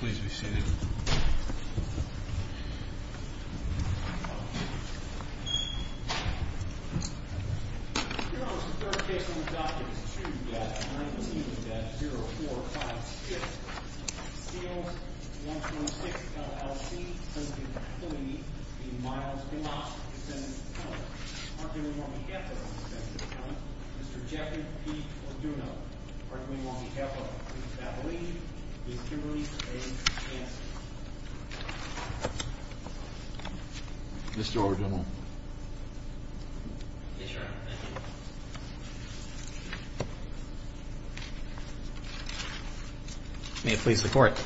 Please be seated. May it please the Court.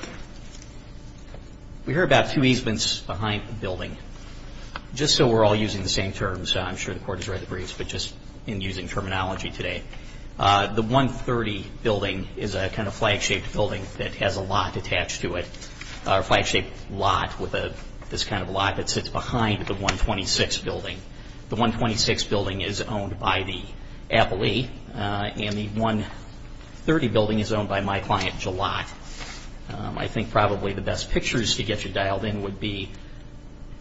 We heard about two easements behind the building. Just so we're all using the same terms, I'm sure the Court has read the briefs, but just in using terminology today. The 130 building is a kind of flag-shaped building that has a lot attached to it, a flag-shaped lot with this kind of lot that sits behind the 126 building. The 126 building is owned by the appellee, and the 130 building is owned by my client, Jalot. I think probably the best pictures to get you dialed in would be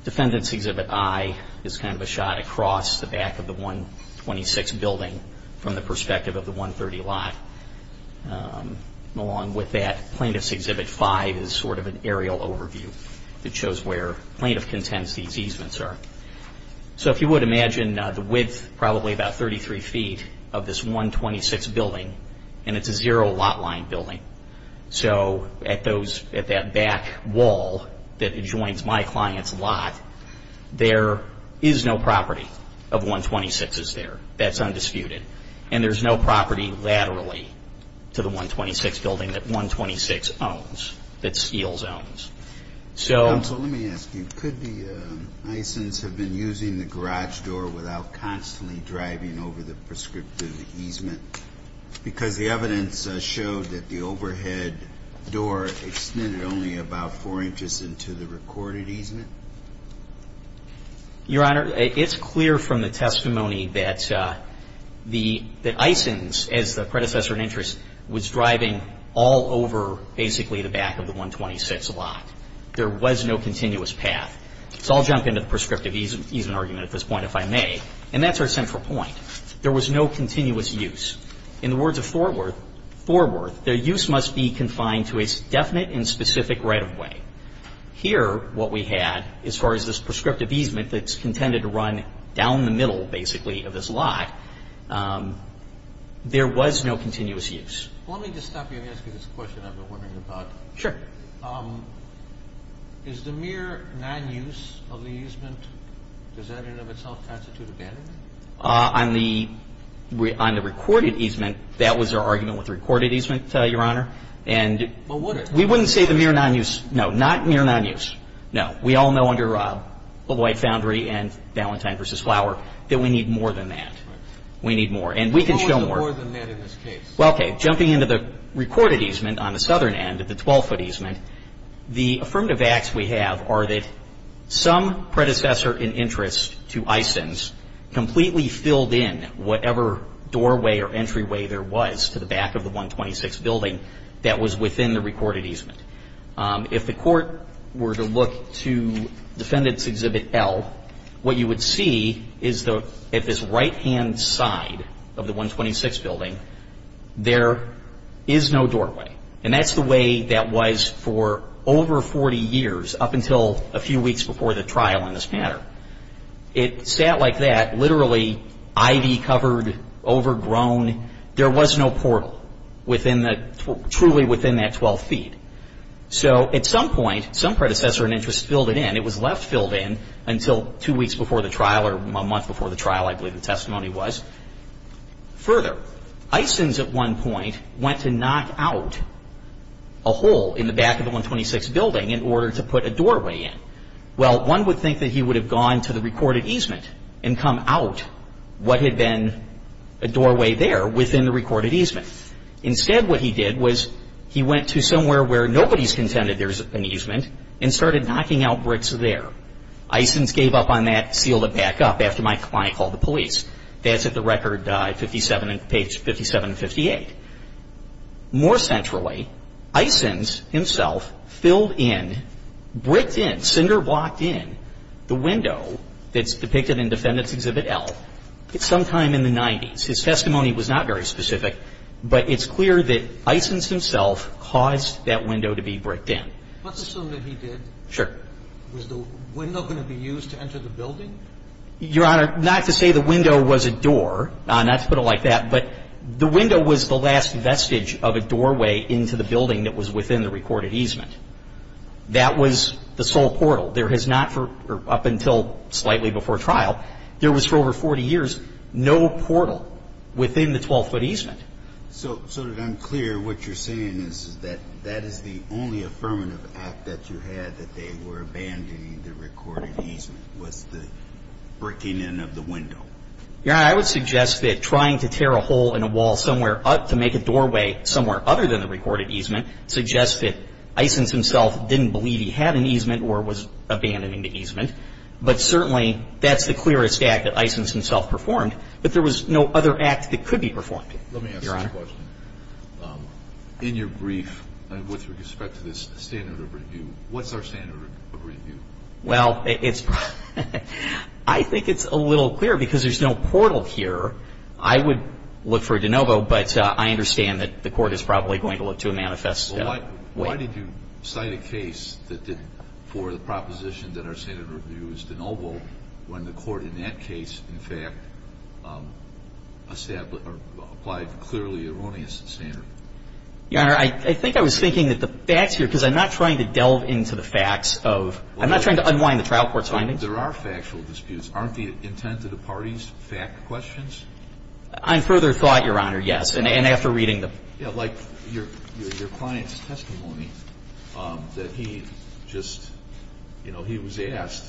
Defendant's Exhibit I is kind of a shot across the back of the 126 building from the perspective of the 130 lot. Along with that, Plaintiff's Exhibit V is sort of an aerial overview that shows where plaintiff contends these easements are. So if you would, imagine the width, probably about 33 feet, of this 126 building, and it's a zero lot line building. So at that back wall that adjoins my client's lot, there is no property of 126's there. That's undisputed. And there's no property laterally to the 126 building that 126 owns, that Steele's owns. Counsel, let me ask you, could the Eysens have been using the garage door without constantly driving over the prescriptive easement? Because the evidence showed that the overhead door extended only about four inches into the recorded easement. Your Honor, it's clear from the testimony that the Eysens, as the predecessor in interest, was driving all over basically the back of the 126 lot. There was no continuous path. So I'll jump into the prescriptive easement argument at this point, if I may. And that's our central point. There was no continuous use. In the words of Thorworth, Thorworth, their use must be confined to a definite and specific right-of-way. Here, what we had, as far as this prescriptive easement that's contended to run down the middle basically of this lot, there was no continuous use. Let me just stop you and ask you this question I've been wondering about. Sure. Is the mere non-use of the easement, does that in and of itself constitute abandonment? On the recorded easement, that was our argument with the recorded easement, Your Honor. But would it? We wouldn't say the mere non-use. No. Not mere non-use. No. We all know under Lloyd-Foundry and Valentine v. Flower that we need more than that. We need more. And we can show more. We need more than that in this case. Well, okay. Jumping into the recorded easement on the southern end, the 12-foot easement, the affirmative acts we have are that some predecessor in interest to Eysens completely filled in whatever doorway or entryway there was to the back of the 126 building that was within the recorded easement. If the court were to look to Defendant's Exhibit L, what you would see is at this right-hand side of the 126 building, there is no doorway. And that's the way that was for over 40 years, up until a few weeks before the trial in this matter. It sat like that, literally ivy-covered, overgrown. There was no portal truly within that 12 feet. So at some point, some predecessor in interest filled it in. It was left filled in until two weeks before the trial or a month before the trial, I believe the testimony was. Further, Eysens at one point went to knock out a hole in the back of the 126 building in order to put a doorway in. Well, one would think that he would have gone to the recorded easement and come out what had been a doorway there within the recorded easement. Instead, what he did was he went to somewhere where nobody's contended there's an easement and started knocking out bricks there. Eysens gave up on that, sealed it back up after my client called the police. That's at the record 57 and 58. More centrally, Eysens himself filled in, bricked in, cinderblocked in the window that's depicted in Defendant's Exhibit L at some time in the 90s. His testimony was not very specific, but it's clear that Eysens himself caused that window to be bricked in. Let's assume that he did. Sure. Was the window going to be used to enter the building? Your Honor, not to say the window was a door, not to put it like that, but the window was the last vestige of a doorway into the building that was within the recorded easement. That was the sole portal. There has not for up until slightly before trial, there was for over 40 years no portal within the 12-foot easement. So to be unclear, what you're saying is that that is the only affirmative act that you had that they were abandoning the recorded easement, was the bricking in of the window? Your Honor, I would suggest that trying to tear a hole in a wall somewhere to make a doorway somewhere other than the recorded easement suggests that Eysens himself didn't believe he had an easement or was abandoning the easement. But certainly that's the clearest act that Eysens himself performed, but there was no other act that could be performed. Let me ask you a question. Your Honor. In your brief, with respect to this standard of review, what's our standard of review? Well, I think it's a little clear because there's no portal here. I would look for a de novo, but I understand that the Court is probably going to look to a manifest way. Why did you cite a case for the proposition that our standard of review is de novo when the Court in that case, in fact, applied clearly erroneous standard? Your Honor, I think I was thinking that the facts here, because I'm not trying to delve into the facts of – I'm not trying to unwind the trial court's findings. There are factual disputes. Aren't the intent of the parties fact questions? On further thought, Your Honor, yes, and after reading the – Yeah, like your client's testimony that he just – you know, he was asked,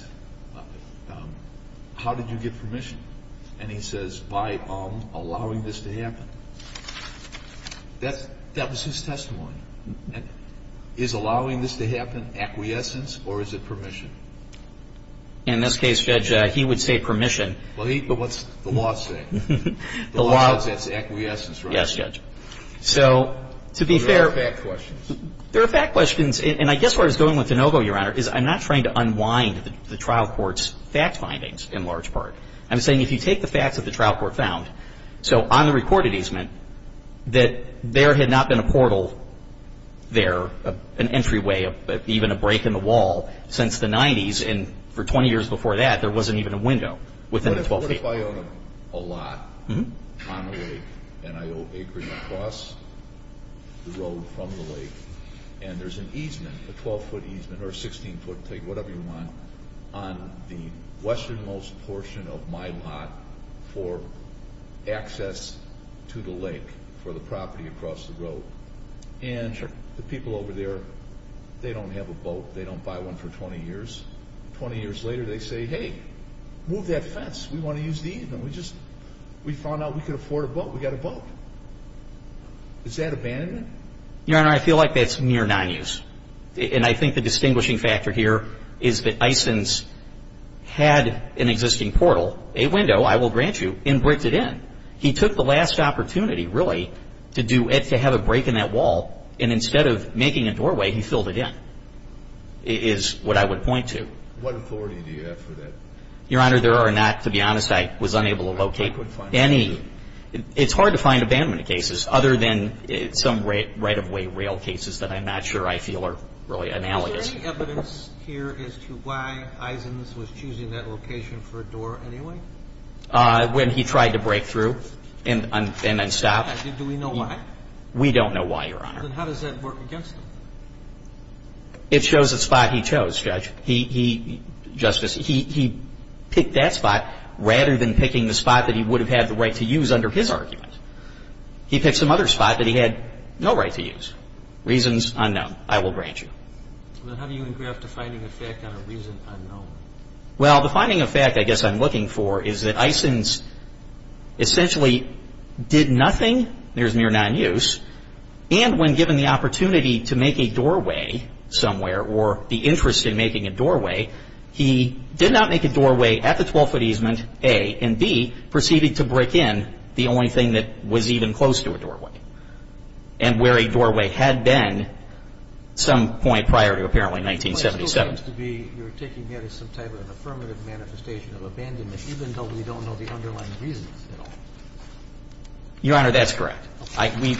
how did you get permission? And he says, by allowing this to happen. That was his testimony. Is allowing this to happen acquiescence or is it permission? In this case, Judge, he would say permission. But what's the law say? The law says it's acquiescence, right? Yes, Judge. So to be fair – There are fact questions. There are fact questions. And I guess where I was going with de novo, Your Honor, is I'm not trying to unwind the trial court's fact findings in large part. I'm saying if you take the facts that the trial court found, so on the recorded easement, that there had not been a portal there, an entryway, even a break in the wall since the 90s, and for 20 years before that, there wasn't even a window within the 12 days. What if I own a lot on a lake and I owe acres across the road from the lake and there's an easement, a 12-foot easement or a 16-foot, whatever you want, on the westernmost portion of my lot for access to the lake for the property across the road? And the people over there, they don't have a boat. They don't buy one for 20 years. 20 years later, they say, hey, move that fence. We want to use the easement. We found out we could afford a boat. We got a boat. Is that abandonment? Your Honor, I feel like that's near non-use. And I think the distinguishing factor here is that Isons had an existing portal, a window, I will grant you, and bricked it in. He took the last opportunity, really, to have a break in that wall, and instead of making a doorway, he filled it in, is what I would point to. What authority do you have for that? Your Honor, there are not, to be honest, I was unable to locate any. It's hard to find abandonment cases other than some right-of-way rail cases that I'm not sure I feel are really analogous. Is there any evidence here as to why Isons was choosing that location for a door anyway? When he tried to break through and then stop. Do we know why? We don't know why, Your Honor. Then how does that work against him? It shows the spot he chose, Judge. He, Justice, he picked that spot rather than picking the spot that he would have had the right to use under his argument. He picked some other spot that he had no right to use. Reasons unknown, I will grant you. Then how do you engraft a finding of fact on a reason unknown? Well, the finding of fact I guess I'm looking for is that Isons essentially did nothing, there's near non-use, and when given the opportunity to make a doorway somewhere or the interest in making a doorway, he did not make a doorway at the 12-foot easement, A, and B, proceeding to break in the only thing that was even close to a doorway and where a doorway had been some point prior to apparently 1977. But it still seems to be you're taking that as some type of an affirmative manifestation of abandonment, even though we don't know the underlying reasons at all. Your Honor, that's correct.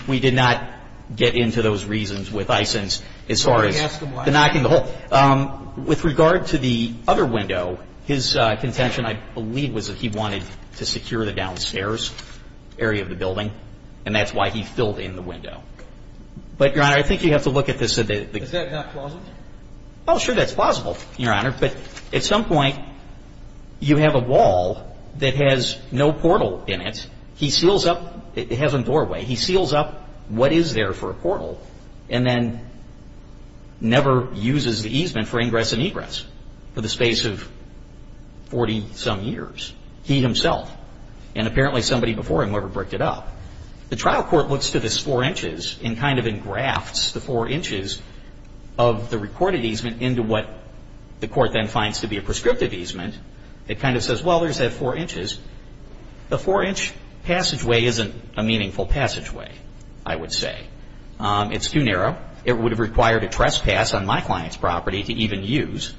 We did not get into those reasons with Isons as far as the knocking the hole. With regard to the other window, his contention, I believe, was that he wanted to secure the downstairs area of the building, and that's why he filled in the window. But, Your Honor, I think you have to look at this a bit. Is that not plausible? Well, sure, that's plausible, Your Honor, but at some point you have a wall that has no portal in it. He seals up, it has a doorway, he seals up what is there for a portal and then never uses the easement for ingress and egress for the space of 40-some years, he himself. And apparently somebody before him never bricked it up. The trial court looks to this 4 inches and kind of engrafts the 4 inches of the recorded easement into what the court then finds to be a prescriptive easement. It kind of says, well, there's that 4 inches. The 4-inch passageway isn't a meaningful passageway, I would say. It's too narrow. It would have required a trespass on my client's property to even use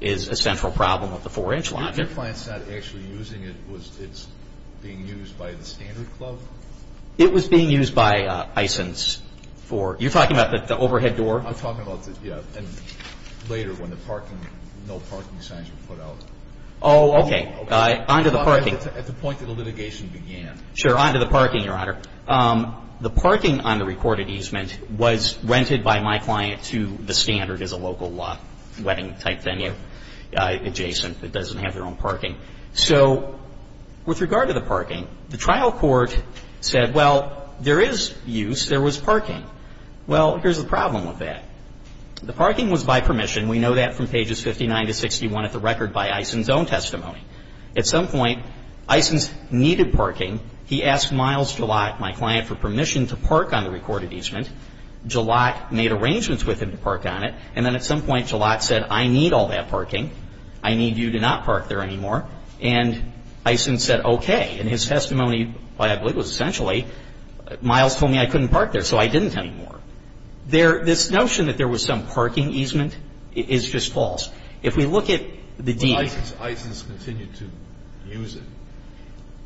is a central problem of the 4-inch logic. Your client's not actually using it. It's being used by the standard club? It was being used by Isons for, you're talking about the overhead door? I'm talking about, yeah, and later when the parking, no parking signs were put out. Oh, okay. On to the parking. At the point that the litigation began. Sure. On to the parking, Your Honor. The parking on the recorded easement was rented by my client to the standard as a local wedding type venue adjacent that doesn't have their own parking. So with regard to the parking, the trial court said, well, there is use. There was parking. Well, here's the problem with that. The parking was by permission. And we know that from pages 59 to 61 of the record by Isons' own testimony. At some point, Isons needed parking. He asked Miles Jalot, my client, for permission to park on the recorded easement. Jalot made arrangements with him to park on it. And then at some point, Jalot said, I need all that parking. I need you to not park there anymore. And Isons said, okay. And his testimony, I believe, was essentially, Miles told me I couldn't park there, so I didn't anymore. This notion that there was some parking easement is just false. If we look at the deed. Why does Isons continue to use it?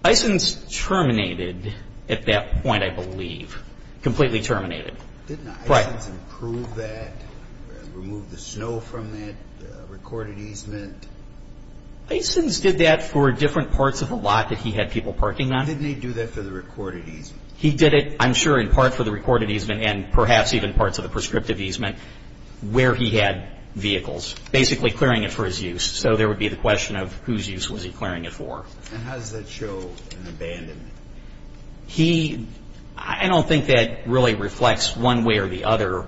Isons terminated at that point, I believe, completely terminated. Didn't Isons improve that, remove the snow from that recorded easement? Isons did that for different parts of the lot that he had people parking on. Didn't he do that for the recorded easement? He did it, I'm sure, in part for the recorded easement and perhaps even parts of the prescriptive easement, where he had vehicles, basically clearing it for his use. So there would be the question of whose use was he clearing it for. And how does that show an abandonment? He, I don't think that really reflects one way or the other,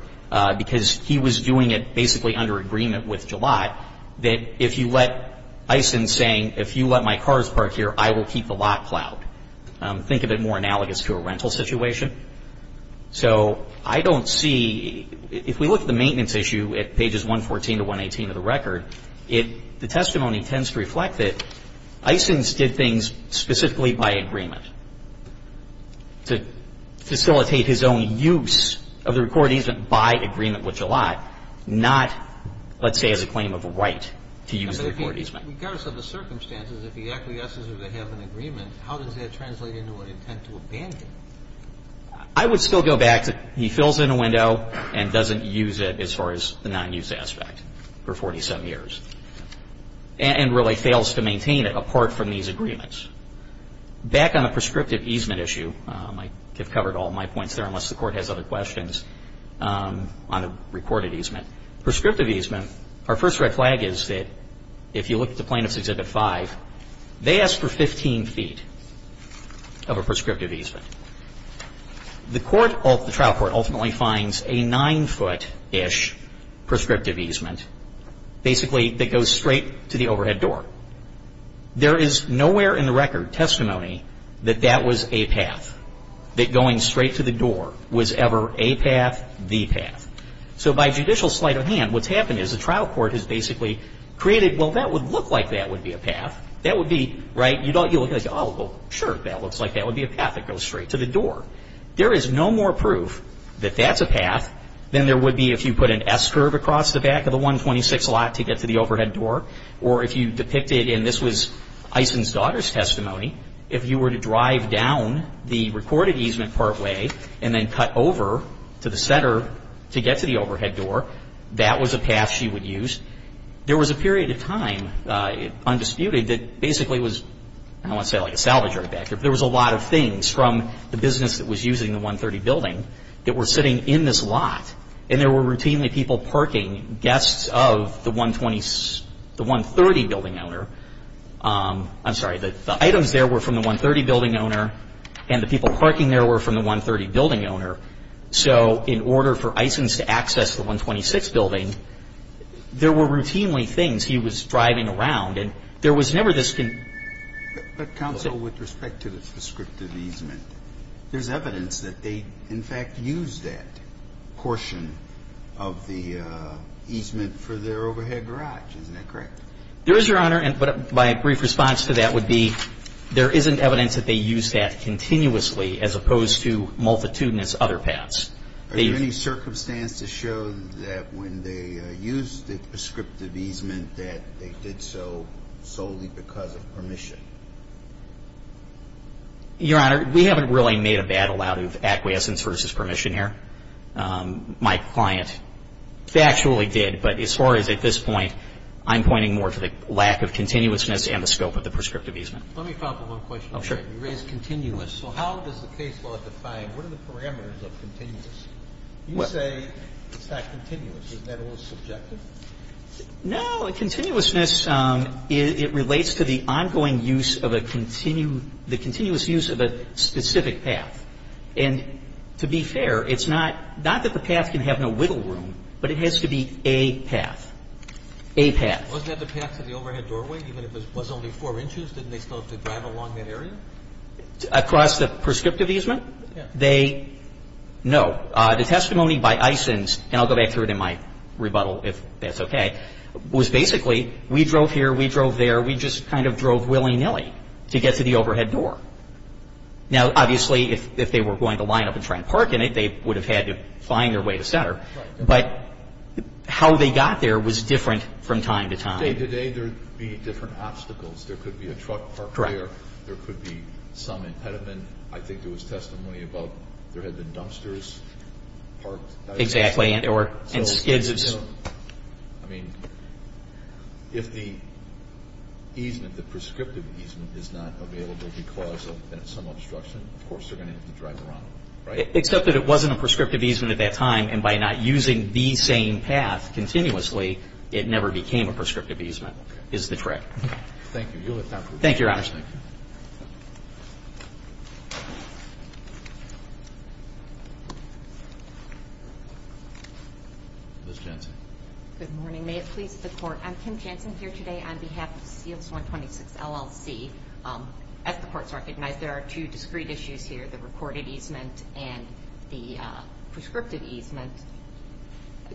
because he was doing it basically under agreement with Jalot that if you let, Isons saying, if you let my cars park here, I will keep the lot cloud. Think of it more analogous to a rental situation. So I don't see, if we look at the maintenance issue at pages 114 to 118 of the record, the testimony tends to reflect that Isons did things specifically by agreement to facilitate his own use of the recorded easement by agreement with Jalot, not, let's say, as a claim of right to use the recorded easement. Regardless of the circumstances, if he acquiesces or they have an agreement, how does that translate into an intent to abandon? I would still go back to he fills in a window and doesn't use it as far as the non-use aspect for 47 years and really fails to maintain it apart from these agreements. Back on the prescriptive easement issue, I have covered all my points there unless the Court has other questions on the recorded easement. Prescriptive easement, our first red flag is that if you look at the Plaintiff's Exhibit 5, they ask for 15 feet of a prescriptive easement. The trial court ultimately finds a 9-foot-ish prescriptive easement, basically that goes straight to the overhead door. There is nowhere in the record testimony that that was a path, that going straight to the door was ever a path, the path. So by judicial sleight of hand, what's happened is the trial court has basically created, well, that would look like that would be a path. That would be, right, you look at it and say, oh, well, sure, that looks like that would be a path that goes straight to the door. There is no more proof that that's a path than there would be if you put an S-curve across the back of the 126 lot to get to the overhead door or if you depicted, and this was Eisen's daughter's testimony, if you were to drive down the recorded easement partway and then cut over to the center to get to the overhead door, that was a path she would use. There was a period of time, undisputed, that basically was, I don't want to say like a salvage right back here, but there was a lot of things from the business that was using the 130 building that were sitting in this lot, and there were routinely people parking, guests of the 130 building owner. I'm sorry, the items there were from the 130 building owner and the people parking there were from the 130 building owner. So in order for Eisen's to access the 126 building, there were routinely things he was driving around, and there was never this. But counsel, with respect to the prescriptive easement, there's evidence that they, in fact, used that portion of the easement for their overhead garage. Isn't that correct? There is, Your Honor, but my brief response to that would be there isn't evidence that they used that continuously as opposed to multitudinous other paths. Are there any circumstances show that when they used the prescriptive easement that they did so solely because of permission? Your Honor, we haven't really made a battle out of acquiescence versus permission here. My client factually did, but as far as at this point, I'm pointing more to the lack of continuousness and the scope of the prescriptive easement. Let me follow up with one question. Oh, sure. You raised continuous. So how does the case law define what are the parameters of continuous? You say it's not continuous. Isn't that a little subjective? No. Continuousness, it relates to the ongoing use of a continuous use of a specific path. And to be fair, it's not that the path can have no wiggle room, but it has to be a path. A path. Wasn't that the path to the overhead doorway even if it was only four inches? Didn't they still have to drive along that area? Across the prescriptive easement? Yeah. No. The testimony by Eissens, and I'll go back to it in my rebuttal if that's okay, was basically we drove here, we drove there, we just kind of drove willy-nilly to get to the overhead door. Now, obviously, if they were going to line up and try and park in it, they would have had to find their way to center. Right. But how they got there was different from time to time. Day to day there would be different obstacles. There could be a truck parked there. Correct. There could be some impediment. I think there was testimony about there had been dumpsters parked. Exactly, and skids. I mean, if the easement, the prescriptive easement, is not available because of some obstruction, of course they're going to have to drive around it, right? Except that it wasn't a prescriptive easement at that time, and by not using the same path continuously, it never became a prescriptive easement, is the trick. Thank you. Thank you, Your Honor. Ms. Jansen. Good morning. May it please the Court, I'm Kim Jansen here today on behalf of CLS 126 LLC. As the Court has recognized, there are two discrete issues here, the recorded easement and the prescriptive easement.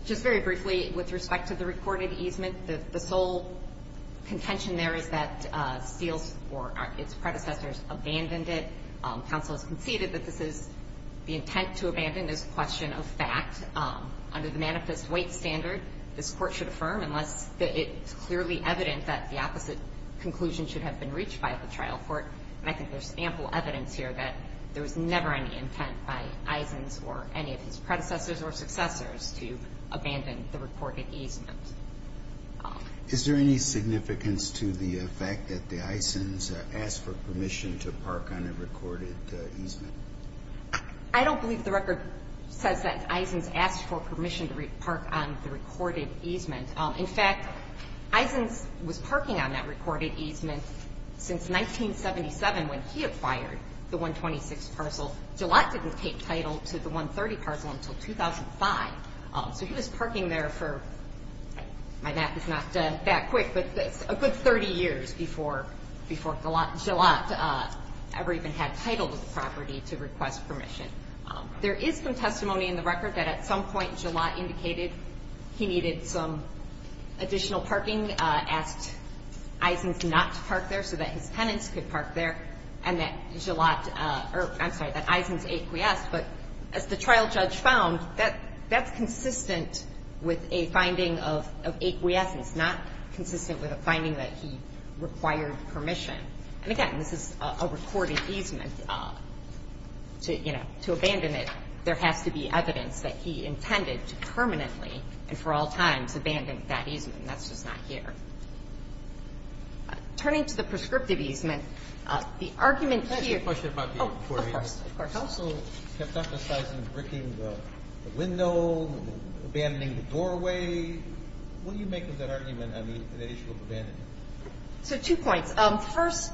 Just very briefly, with respect to the recorded easement, the sole contention there is that CLS or its predecessors abandoned it. Counsel has conceded that this is the intent to abandon is a question of fact. Under the Manifest Weight Standard, this Court should affirm unless it's clearly evident that the opposite conclusion should have been reached by the trial court. And I think there's ample evidence here that there was never any intent by Eisens or any of his predecessors or successors to abandon the recorded easement. Is there any significance to the fact that the Eisens asked for permission to park on a recorded easement? I don't believe the record says that Eisens asked for permission to park on the recorded easement. In fact, Eisens was parking on that recorded easement since 1977 when he acquired the 126 parcel. Gillott didn't take title to the 130 parcel until 2005. So he was parking there for, my math is not that quick, but a good 30 years before Gillott ever even had title to the property to request permission. There is some testimony in the record that at some point Gillott indicated he needed some additional parking, asked Eisens not to park there so that his tenants could park there, and that Gillott, or I'm sorry, that Eisens acquiesced. But as the trial judge found, that's consistent with a finding of acquiescence, not consistent with a finding that he required permission. And again, this is a recorded easement. To abandon it, there has to be evidence that he intended to permanently and for all times abandon that easement. That's just not here. Turning to the prescriptive easement, the argument here – Can I ask you a question about the recording? Of course. The parcel kept emphasizing bricking the window, abandoning the doorway. What do you make of that argument on the issue of abandonment? So two points. First,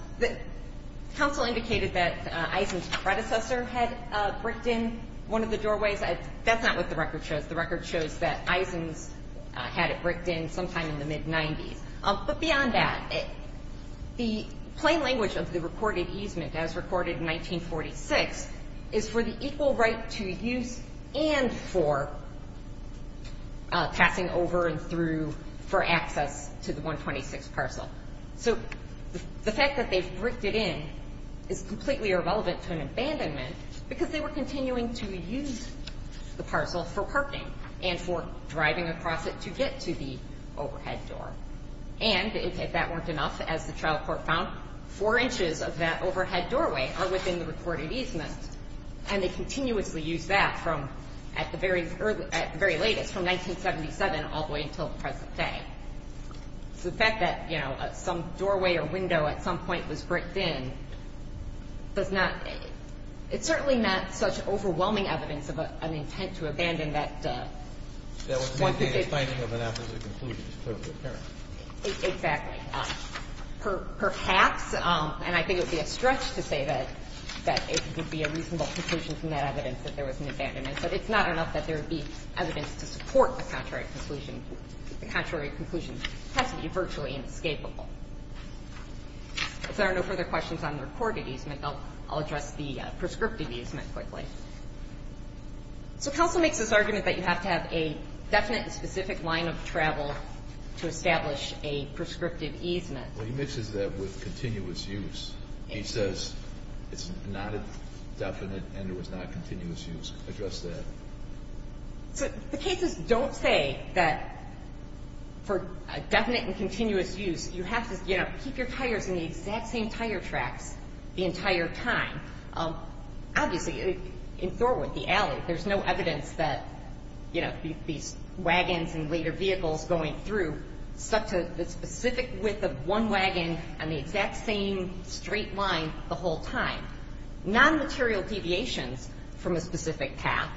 counsel indicated that Eisens' predecessor had bricked in one of the doorways. That's not what the record shows. The record shows that Eisens had it bricked in sometime in the mid-'90s. But beyond that, the plain language of the recorded easement, as recorded in 1946, is for the equal right to use and for passing over and through for access to the 126 parcel. So the fact that they've bricked it in is completely irrelevant to an abandonment because they were continuing to use the parcel for parking and for driving across it to get to the overhead door. And if that weren't enough, as the trial court found, four inches of that overhead doorway are within the recorded easement, and they continuously use that at the very latest, from 1977 all the way until the present day. So the fact that some doorway or window at some point was bricked in does not – it's certainly not such overwhelming evidence of an intent to abandon that one who did. That would negate a finding of an opposite conclusion, it's clearly apparent. Exactly. Perhaps, and I think it would be a stretch to say that it would be a reasonable conclusion from that evidence that there was an abandonment, but it's not enough that there would be evidence to support the contrary conclusion. The contrary conclusion has to be virtually inescapable. If there are no further questions on the recorded easement, I'll address the prescriptive easement quickly. So counsel makes this argument that you have to have a definite and specific line of travel to establish a prescriptive easement. Well, he mixes that with continuous use. He says it's not a definite and it was not continuous use. Address that. The cases don't say that for a definite and continuous use, you have to keep your tires in the exact same tire tracks the entire time. Obviously, in Thornton, the alley, there's no evidence that these wagons and later vehicles going through stuck to the specific width of one wagon on the exact same straight line the whole time. Nonmaterial deviations from a specific path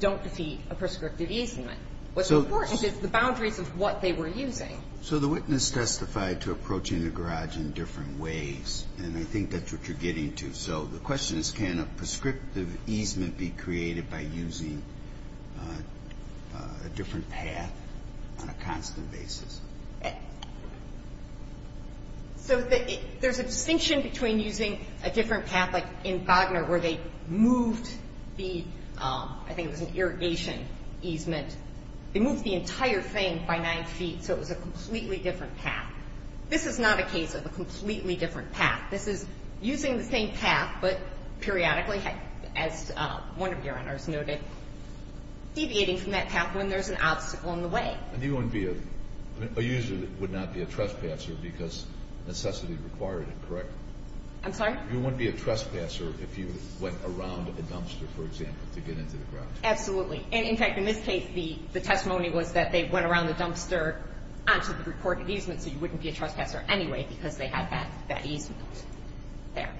don't defeat a prescriptive easement. What's important is the boundaries of what they were using. So the witness testified to approaching the garage in different ways, and I think that's what you're getting to. So the question is can a prescriptive easement be created by using a different path on a constant basis? So there's a distinction between using a different path, like in Bogner where they moved the, I think it was an irrigation easement. They moved the entire thing by 9 feet, so it was a completely different path. This is not a case of a completely different path. This is using the same path, but periodically, as one of your honors noted, deviating from that path when there's an obstacle in the way. And you wouldn't be a user that would not be a trespasser because necessity required it, correct? I'm sorry? You wouldn't be a trespasser if you went around a dumpster, for example, to get into the garage? Absolutely. And, in fact, in this case, the testimony was that they went around the dumpster onto the reported easement, so you wouldn't be a trespasser anyway because they had that easement there.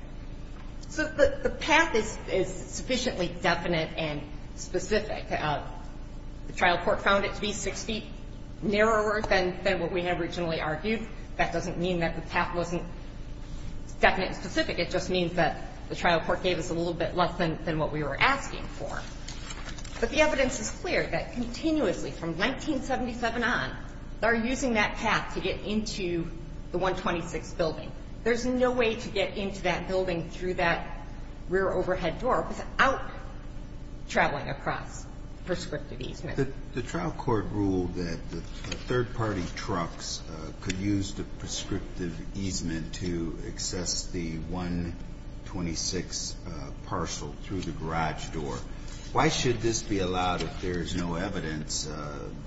So the path is sufficiently definite and specific. The trial court found it to be 6 feet narrower than what we had originally argued. That doesn't mean that the path wasn't definite and specific. It just means that the trial court gave us a little bit less than what we were asking for. But the evidence is clear that continuously from 1977 on, they're using that path to get into the 126 building. There's no way to get into that building through that rear overhead door without traveling across prescriptive easement. The trial court ruled that the third-party trucks could use the prescriptive easement to access the 126 parcel through the garage door. Why should this be allowed if there is no evidence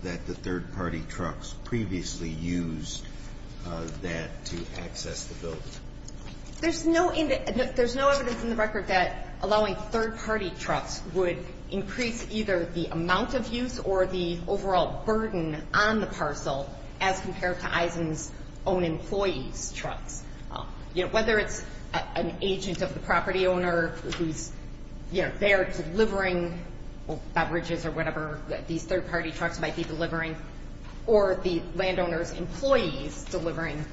that the third-party trucks previously used that to access the building? There's no evidence in the record that allowing third-party trucks would increase either the amount of use or the overall burden on the parcel as compared to EISEN's own employees' trucks. You know, whether it's an agent of the property owner who's, you know, they're delivering beverages or whatever these third-party trucks might be delivering, or the landowner's employees delivering,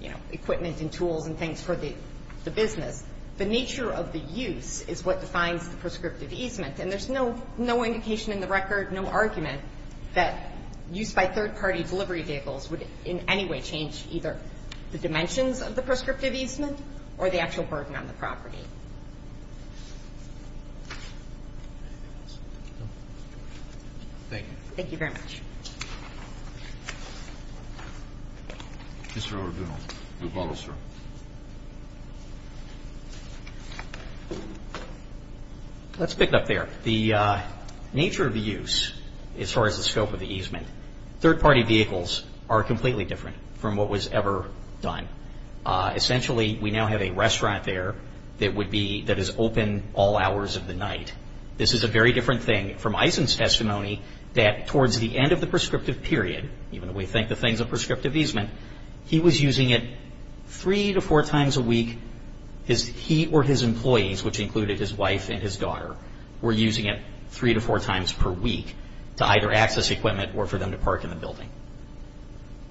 you know, equipment and tools and things for the business, the nature of the use is what defines the prescriptive easement. And there's no indication in the record, no argument, that use by third-party delivery vehicles would in any way change either the dimensions of the prescriptive easement or the actual burden on the property. Thank you. Thank you very much. Mr. O'Donnell, your bottle, sir. Let's pick it up there. The nature of the use as far as the scope of the easement, third-party vehicles are completely different from what was ever done. Essentially, we now have a restaurant there that would be, that is open all hours of the night. This is a very different thing from Eisen's testimony that towards the end of the prescriptive period, even though we think the thing's a prescriptive easement, he was using it three to four times a week. He or his employees, which included his wife and his daughter, were using it three to four times per week to either access equipment or for them to park in the building.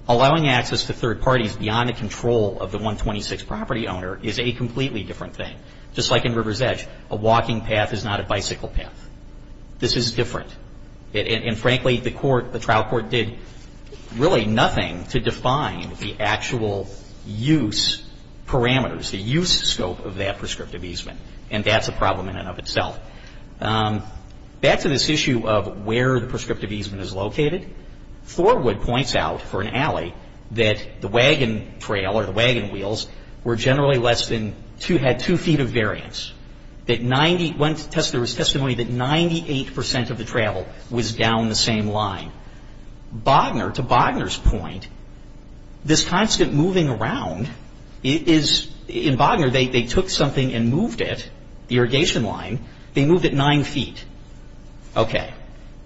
Allowing access to third parties beyond the control of the 126 property owner is a completely different thing. Just like in River's Edge, a walking path is not a bicycle path. This is different. And frankly, the trial court did really nothing to define the actual use parameters, the use scope of that prescriptive easement, and that's a problem in and of itself. Back to this issue of where the prescriptive easement is located, Thorwood points out for an alley that the wagon trail or the wagon wheels were generally less than two, two feet of variance. There was testimony that 98 percent of the travel was down the same line. Bogner, to Bogner's point, this constant moving around is, in Bogner, they took something and moved it, the irrigation line, they moved it nine feet. Okay.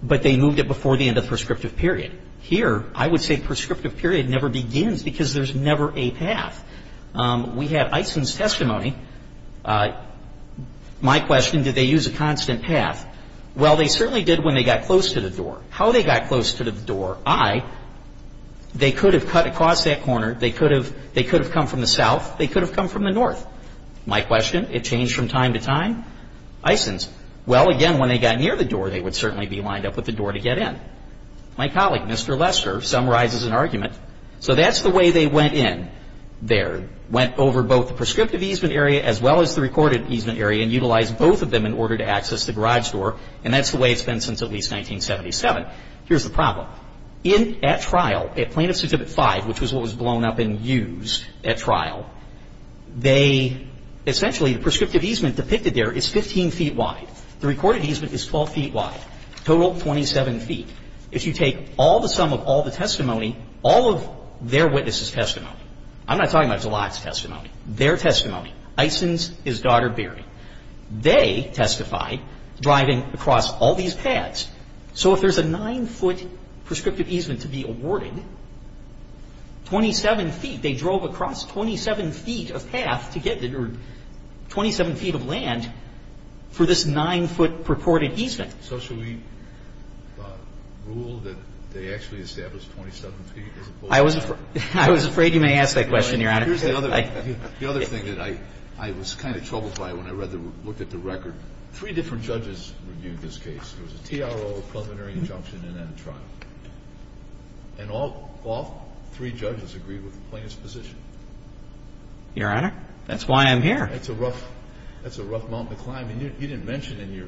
But they moved it before the end of the prescriptive period. Here, I would say prescriptive period never begins because there's never a path. We had Eysen's testimony. My question, did they use a constant path? Well, they certainly did when they got close to the door. How they got close to the door, I, they could have cut across that corner. They could have come from the south. They could have come from the north. My question, it changed from time to time. Eysen's, well, again, when they got near the door, they would certainly be lined up with the door to get in. My colleague, Mr. Lester, summarizes an argument. So that's the way they went in there. Went over both the prescriptive easement area as well as the recorded easement area and utilized both of them in order to access the garage door, and that's the way it's been since at least 1977. Here's the problem. At trial, at Plaintiff's Certificate 5, which was what was blown up and used at trial, they essentially, the prescriptive easement depicted there is 15 feet wide. The recorded easement is 12 feet wide, total 27 feet. If you take all the sum of all the testimony, all of their witnesses' testimony, I'm not talking about Zelak's testimony, their testimony, Eysen's, his daughter Barry, they testified driving across all these paths. So if there's a 9-foot prescriptive easement to be awarded, 27 feet, they drove across 27 feet of path to get there, or 27 feet of land for this 9-foot purported easement. So should we rule that they actually established 27 feet as opposed to 9? I was afraid you may ask that question, Your Honor. Here's the other thing that I was kind of troubled by when I looked at the record. Three different judges reviewed this case. There was a TRO, a preliminary injunction, and then a trial. And all three judges agreed with the plaintiff's position. Your Honor, that's why I'm here. That's a rough mountain to climb. I mean, you didn't mention in your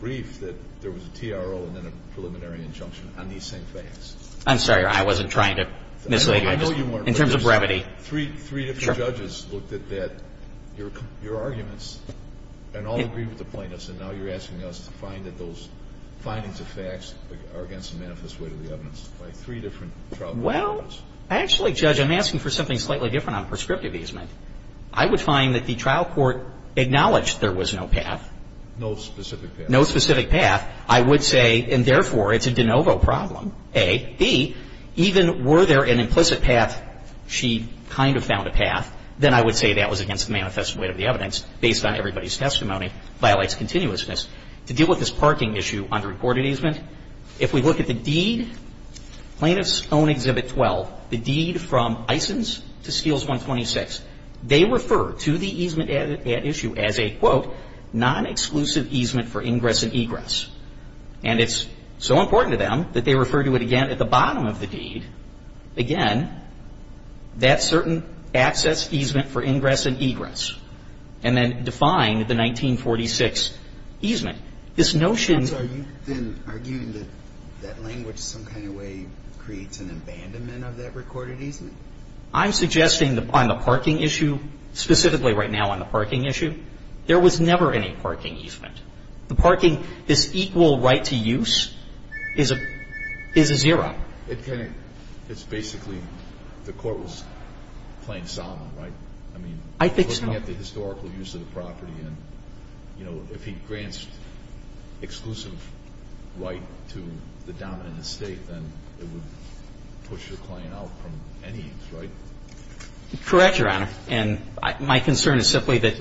brief that there was a TRO and then a preliminary injunction on these same facts. I'm sorry, Your Honor. I wasn't trying to mislead you. I know you weren't. In terms of brevity. Three different judges looked at that, your arguments, and all agreed with the plaintiffs. And now you're asking us to find that those findings of facts are against the manifest way to the evidence by three different trial courts. Well, actually, Judge, I'm asking for something slightly different on prescriptive easement. I would find that the trial court acknowledged there was no path. No specific path. No specific path. I would say, and therefore, it's a de novo problem, A. B, even were there an implicit path, she kind of found a path. Then I would say that was against the manifest way to the evidence based on everybody's testimony, violates continuousness. To deal with this parking issue under recorded easement, if we look at the deed, plaintiff's own Exhibit 12, the deed from Eysen's to Steele's 126. They refer to the easement at issue as a, quote, non-exclusive easement for ingress and egress. And it's so important to them that they refer to it again at the bottom of the deed. Again, that certain access easement for ingress and egress. And then define the 1946 easement. This notion. So are you then arguing that that language some kind of way creates an abandonment of that recorded easement? I'm suggesting on the parking issue, specifically right now on the parking issue, there was never any parking easement. The parking, this equal right to use is a zero. It's basically the court was playing Solomon, right? I think so. I mean, if you look at the historical use of the property and, you know, if he grants exclusive right to the dominant estate, then it would push the claim out from any, right? Correct, Your Honor. And my concern is simply that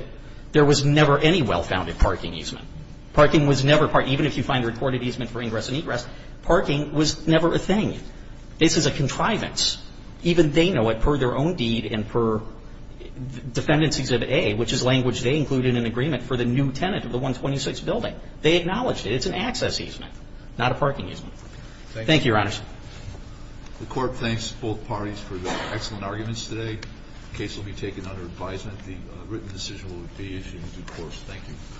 there was never any well-founded parking easement. Parking was never a part, even if you find a recorded easement for ingress and egress, parking was never a thing. This is a contrivance. Even they know it per their own deed and per Defendant's Exhibit A, which is language they included in an agreement for the new tenant of the 126 building. They acknowledged it. It's an access easement, not a parking easement. Thank you. Thank you, Your Honor. The court thanks both parties for their excellent arguments today. The case will be taken under advisement. The written decision will be issued in due course. Thank you.